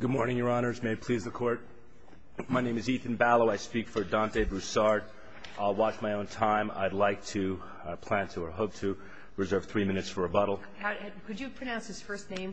Good morning, Your Honors. May it please the Court. My name is Ethan Ballow. I speak for Deante Broussard. I'll watch my own time. I'd like to, plan to, or hope to, reserve three minutes for rebuttal. Could you pronounce his first name?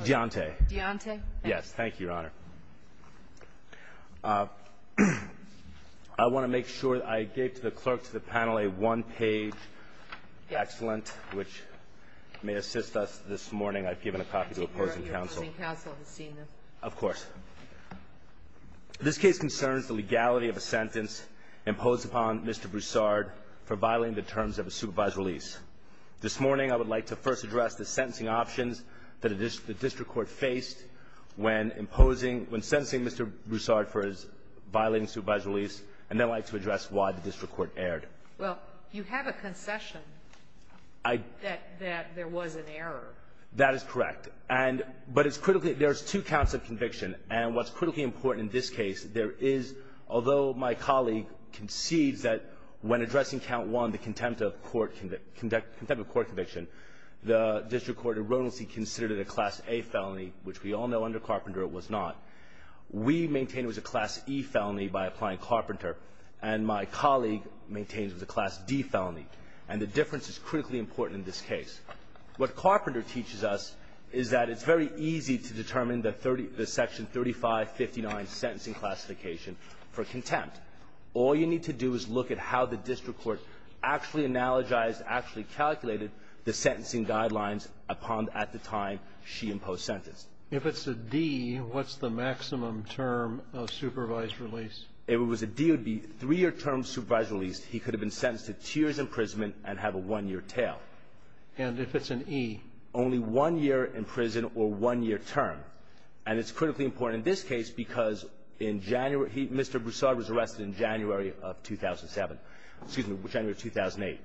Deante. Deante. Yes. Thank you, Your Honor. I want to make sure I gave the clerk to the panel a one-page excellent, which may assist us this morning. I've given a copy to opposing counsel. Of course. This case concerns the legality of a sentence imposed upon Mr. Broussard for violating the terms of a supervised release. This morning, I would like to first address the sentencing options that the district court faced when imposing, when sentencing Mr. Broussard for his violating supervised release, and then I'd like to address why the district court erred. Well, you have a concession that there was an error. That is correct. And, but it's critically, there's two counts of conviction, and what's critically important in this case, there is, although my colleague concedes that when addressing count one, the contempt of court conviction, the district court erroneously considered it a Class A felony, which we all know under Carpenter it was not. We maintain it was a Class E felony by applying Carpenter, and my colleague maintains it was a Class D felony, and the difference is critically important in this case. What Carpenter teaches us is that it's very easy to determine the section 3559 sentencing classification for contempt. All you need to do is look at how the district court actually analogized, actually calculated the sentencing guidelines upon at the time she imposed sentence. If it's a D, what's the maximum term of supervised release? If it was a D, it would be three-year term supervised release. He could have been sentenced to two years' imprisonment and have a one-year tail. And if it's an E, only one year in prison or one-year term. And it's critically important in this case because in January, he, Mr. Broussard was arrested in January of 2007, excuse me, January of 2008.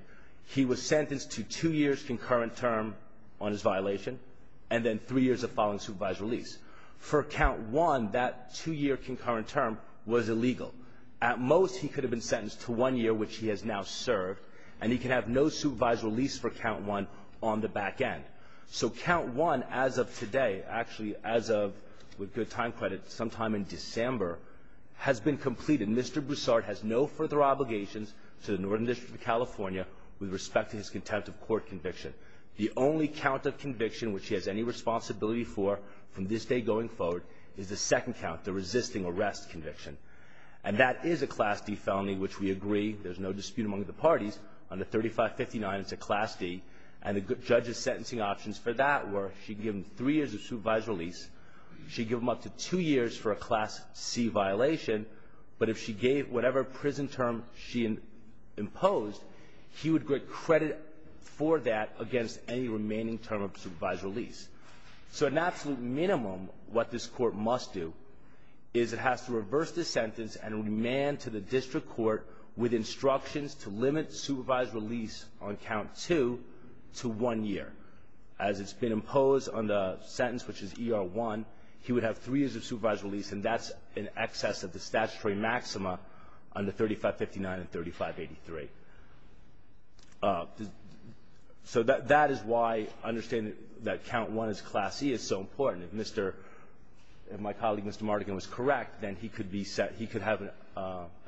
He was sentenced to two years' concurrent term on his violation and then three years of following supervised release. For count one, that two-year concurrent term was illegal. At most, he could have been sentenced to one year, which he has now served, and he can have no supervised release for count one on the back end. So count one as of today, actually as of, with good time credit, sometime in December, has been completed. Mr. Broussard has no further obligations to the Northern District of California with respect to his contempt of court conviction. The only count of conviction which he has any responsibility for from this day going forward is the second count, the resisting arrest conviction. And that is a Class D felony, which we agree. There's no dispute among the parties. Under 3559, it's a Class D. And the judge's sentencing options for that were she'd give him three years of supervised release. She'd give him up to two years for a Class C violation. But if she gave whatever prison term she imposed, he would get credit for that against any remaining term of supervised release. So at an absolute minimum, what this court must do is it has to reverse the sentence and remand to the district court with instructions to limit supervised release on count two to one year. As it's been imposed on the sentence, which is ER1, he would have three years of supervised release, and that's in excess of the statutory maxima under 3559 and 3583. So that is why understanding that count one is Class C is so important. If Mr. — if my colleague, Mr. Mardigan, was correct, then he could be set — he could have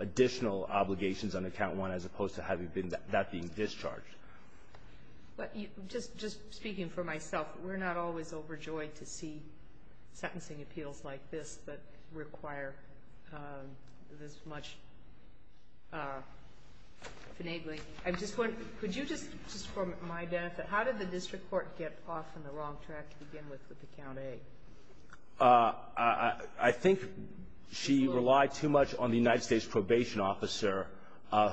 additional obligations under count one as opposed to having that being discharged. But just — just speaking for myself, we're not always overjoyed to see sentencing appeals like this that require this much finagling. I'm just wondering, could you just — just for my benefit, how did the district court get off on the wrong track to begin with with the count A? I think she relied too much on the United States probation officer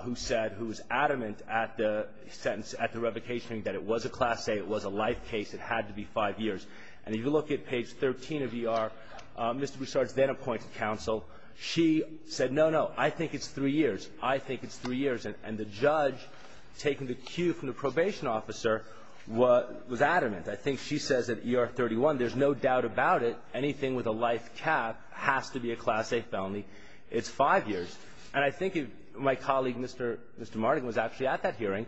who said — who was adamant at the sentence, at the revocation, that it was a Class A, it was a life case, it had to be five years. And if you look at page 13 of ER, Mr. Broussard's then-appointed counsel, she said, no, no, I think it's three years. I think it's three years. And the judge, taking the cue from the probation officer, was adamant. I think she says at ER 31, there's no doubt about it, anything with a life cap has to be a Class A felony. It's five years. And I think my colleague, Mr. Mardigan, was actually at that hearing.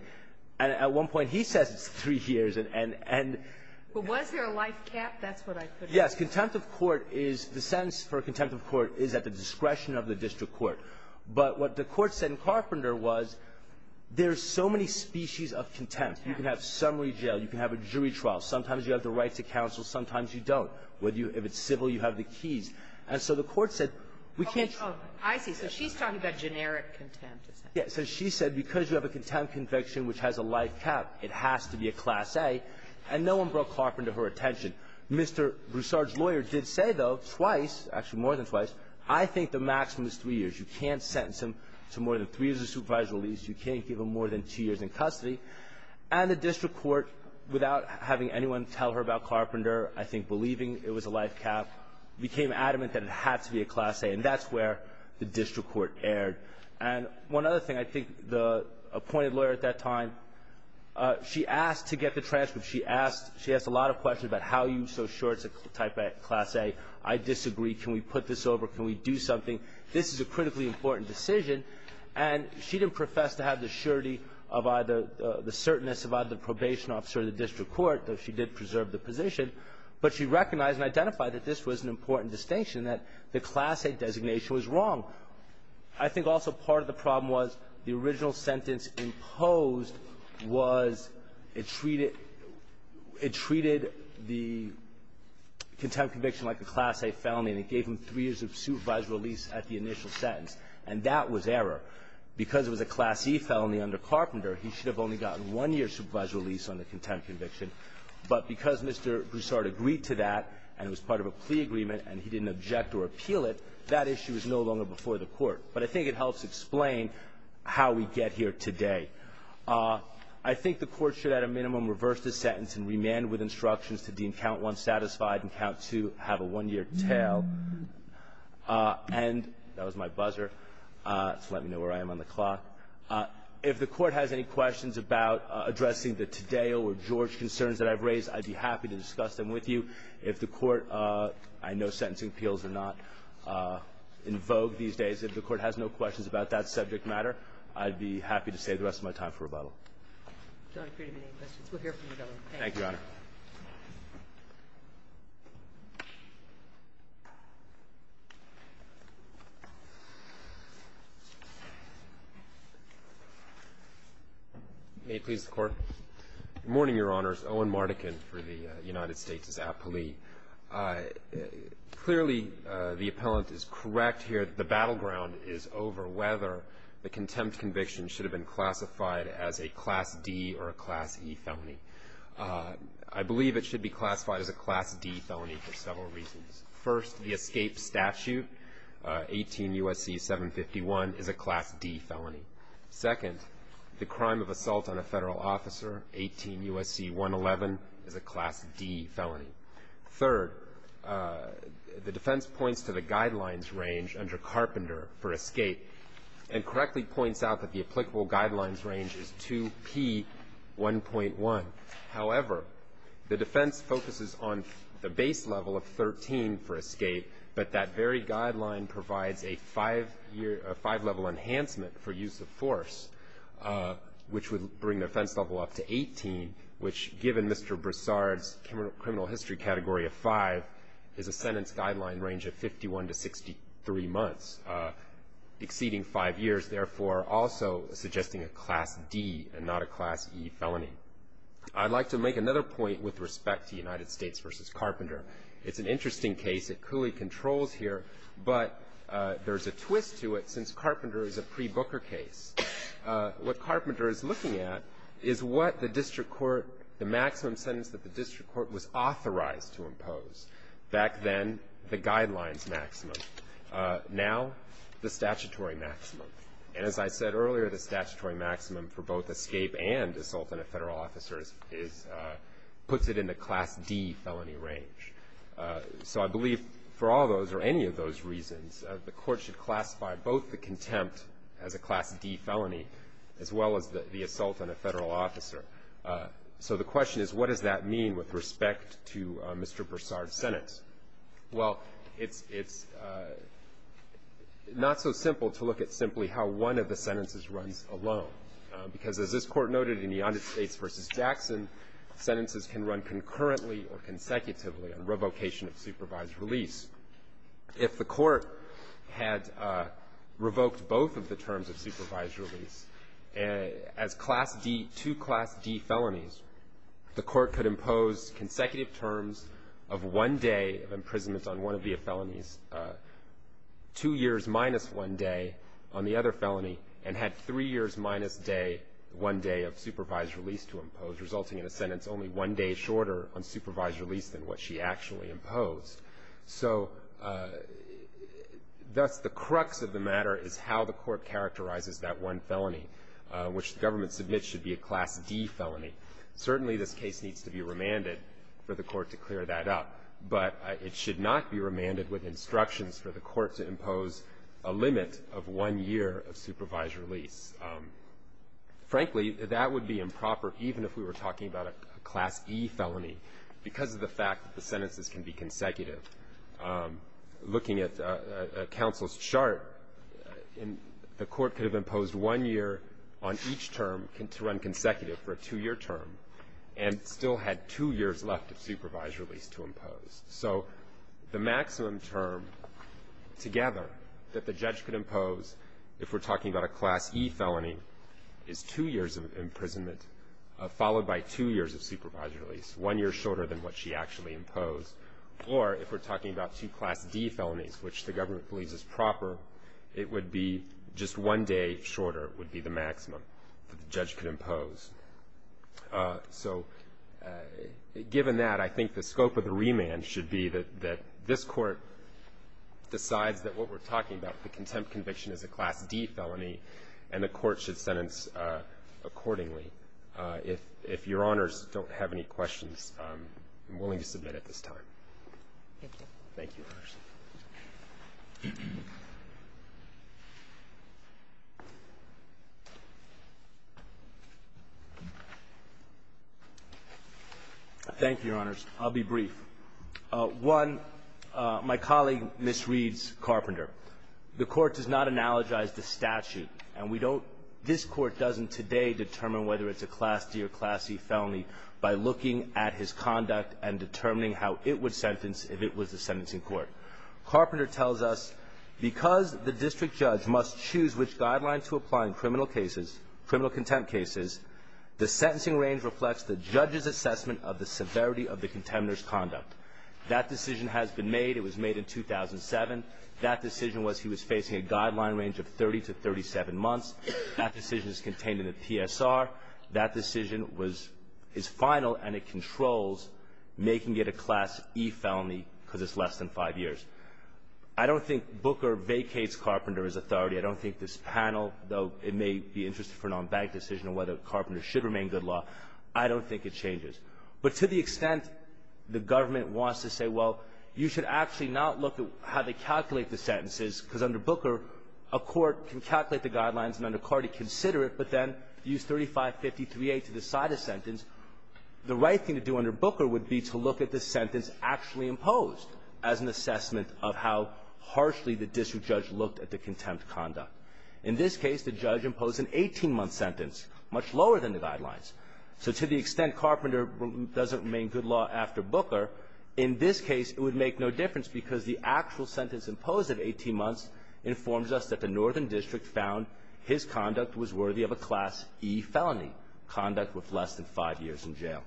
And at one point, he says it's three years. And — But was there a life cap? That's what I — Yes. Contempt of court is — the sentence for contempt of court is at the discretion of the district court. But what the court said in Carpenter was there's so many species of contempt. You can have summary jail. You can have a jury trial. Sometimes you have the right to counsel. Sometimes you don't. If it's civil, you have the keys. And so the court said we can't — Okay. Oh, I see. So she's talking about generic contempt. Yes. So she said because you have a contempt conviction which has a life cap, it has to be a Class A. And no one brought Carpenter to her attention. Mr. Broussard's lawyer did say, though, twice, actually more than twice, I think the maximum is three years. You can't sentence him to more than three years of supervisory release. You can't give him more than two years in custody. And the district court, without having anyone tell her about Carpenter, I think believing it was a life cap, became adamant that it had to be a Class A. And that's where the district court erred. And one other thing. I think the appointed lawyer at that time, she asked to get the transcript. She asked — she asked a lot of questions about how you so sure it's a type of Class A. I disagree. Can we put this over? Can we do something? This is a critically important decision. And she didn't profess to have the surety of either — the certainness of either the probation officer or the district court, though she did preserve the position. But she recognized and identified that this was an important distinction, that the Class A designation was wrong. I think also part of the problem was the original sentence imposed was it treated — it treated the contempt conviction like a Class A felony, and it gave him three years of supervised release at the initial sentence. And that was error. Because it was a Class E felony under Carpenter, he should have only gotten one year supervised release on the contempt conviction. But because Mr. Broussard agreed to that, and it was part of a plea agreement, and he didn't object or appeal it, that issue is no longer before the Court. But I think it helps explain how we get here today. I think the Court should, at a minimum, reverse the sentence and remand with instructions to deem Count 1 satisfied and Count 2 have a one-year tail. And that was my buzzer. So let me know where I am on the clock. If the Court has any questions about addressing the Taddeo or George concerns that I've raised, I'd be happy to discuss them with you. If the Court — I know sentencing appeals are not in vogue these days. If the Court has no questions about that subject matter, I'd be happy to save the rest of my time for rebuttal. I don't agree to any questions. We'll hear from you, Governor. Thank you. Thank you, Your Honor. May it please the Court. Good morning, Your Honors. Owen Mardikin for the United States is appellee. Clearly, the appellant is correct here. The battleground is over whether the contempt conviction should have been classified as a Class D or a Class E felony. I believe it should be classified as a Class D felony for several reasons. First, the escape statute, 18 U.S.C. 751, is a Class D felony. Second, the crime of assault on a federal officer, 18 U.S.C. 111, is a Class D felony. Third, the defense points to the guidelines range under Carpenter for escape and correctly points out that the applicable guidelines range is 2P1.1. However, the defense focuses on the base level of 13 for escape, but that very guideline provides a five-level enhancement for use of force, which would bring the offense level up to 18, which given Mr. Broussard's criminal history category of five, is a sentence guideline range of 51 to 63 months, exceeding five years, therefore also suggesting a Class D and not a Class E felony. I'd like to make another point with respect to United States v. Carpenter. It's an interesting case. It clearly controls here, but there's a twist to it since Carpenter is a pre-Booker case. What Carpenter is looking at is what the district court, the maximum sentence that the district court was authorized to impose. Back then, the guidelines maximum. Now, the statutory maximum. As I said earlier, the statutory maximum for both escape and assault on a federal officer puts it in the Class D felony range. So I believe for all those or any of those reasons, the court should classify both the contempt as a Class D felony as well as the assault on a federal officer. So the question is, what does that mean with respect to Mr. Broussard's sentence? Well, it's not so simple to look at simply how one of the sentences runs alone, because as this Court noted in the United States v. Jackson, sentences can run concurrently or consecutively on revocation of supervised release. If the court had revoked both of the terms of supervised release, as Class D to Class D felonies, the court could impose consecutive terms of one day of imprisonment on one of the felonies, two years minus one day on the other felony, and had three years minus one day of supervised release to impose, resulting in a sentence only one day shorter on supervised release than what she actually imposed. So thus the crux of the matter is how the court characterizes that one felony, which the government submits should be a Class D felony. Certainly this case needs to be remanded for the court to clear that up, but it should not be remanded with instructions for the court to impose a limit of one year of supervised release. Frankly, that would be improper even if we were talking about a Class E felony because of the fact that the sentences can be consecutive. Looking at counsel's chart, the court could have imposed one year on each term to run consecutive for a two-year term and still had two years left of supervised release to impose. So the maximum term together that the judge could impose, if we're talking about a Class E felony, is two years of imprisonment followed by two years of supervised release, one year shorter than what she actually imposed. Or if we're talking about two Class D felonies, which the government believes is proper, it would be just one day shorter would be the maximum that the judge could impose. So given that, I think the scope of the remand should be that this court decides that what we're talking about, the contempt conviction is a Class D felony, and the court should sentence accordingly. If Your Honors don't have any questions, I'm willing to submit at this time. Thank you. Thank you, Your Honors. Thank you, Your Honors. I'll be brief. One, my colleague, Ms. Reed's Carpenter, the court does not analogize the statute, and we don't, this court doesn't today determine whether it's a Class D or Class E felony by looking at his conduct and determining how it would sentence if it was a sentencing court. Carpenter tells us, because the district judge must choose which guidelines to apply in criminal cases, criminal contempt cases, the sentencing range reflects the judge's assessment of the severity of the contemptor's conduct. That decision has been made. It was made in 2007. That decision was he was facing a guideline range of 30 to 37 months. That decision is contained in the PSR. That decision was, is final, and it controls making it a Class E felony because it's less than five years. I don't think Booker vacates Carpenter as authority. I don't think this panel, though it may be interesting for an unbanked decision on whether Carpenter should remain good law, I don't think it changes. But to the extent the government wants to say, well, you should actually not look at how they calculate the sentences, because under Booker, a court can calculate the guidelines, and then a court can consider it, but then use 3553A to decide a sentence, the right thing to do under Booker would be to look at the sentence actually imposed as an assessment of how harshly the district judge looked at the contempt conduct. In this case, the judge imposed an 18-month sentence, much lower than the guidelines. So to the extent Carpenter doesn't remain good law after Booker, in this case, it would make no difference because the actual sentence imposed at 18 months informs us that the northern district found his conduct was worthy of a Class E felony, conduct with less than five years in jail.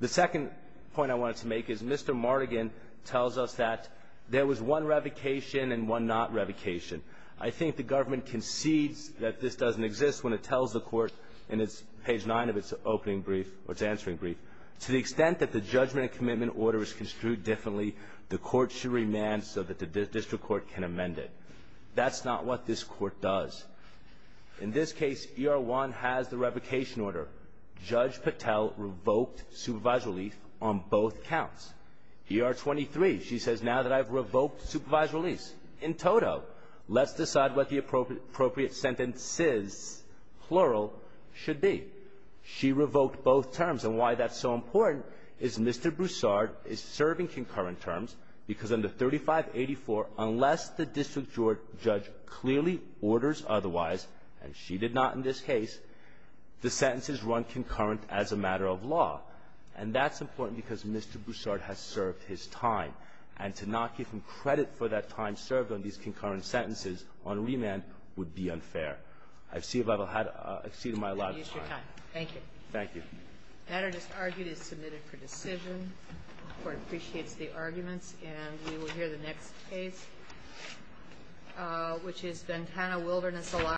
The second point I wanted to make is Mr. Martigan tells us that there was one revocation and one not revocation. I think the government concedes that this doesn't exist when it tells the court in its page 9 of its opening brief or its answering brief, to the extent that the judgment and commitment order is construed differently, the court should remand so that the district court can amend it. That's not what this court does. In this case, ER-1 has the revocation order. Judge Patel revoked supervised relief on both counts. ER-23, she says, now that I've revoked supervised release. In total, let's decide what the appropriate sentences, plural, should be. She revoked both terms. And why that's so important is Mr. Broussard is serving concurrent terms because under 3584, unless the district judge clearly orders otherwise, and she did not in this case, the sentences run concurrent as a matter of law. And that's important because Mr. Broussard has served his time. And to not give him credit for that time served on these concurrent sentences on remand would be unfair. I see if I've exceeded my allotted time. Thank you. Thank you. That is argued as submitted for decision. The court appreciates the arguments. And we will hear the next case, which is Ventana Wilderness-Elias.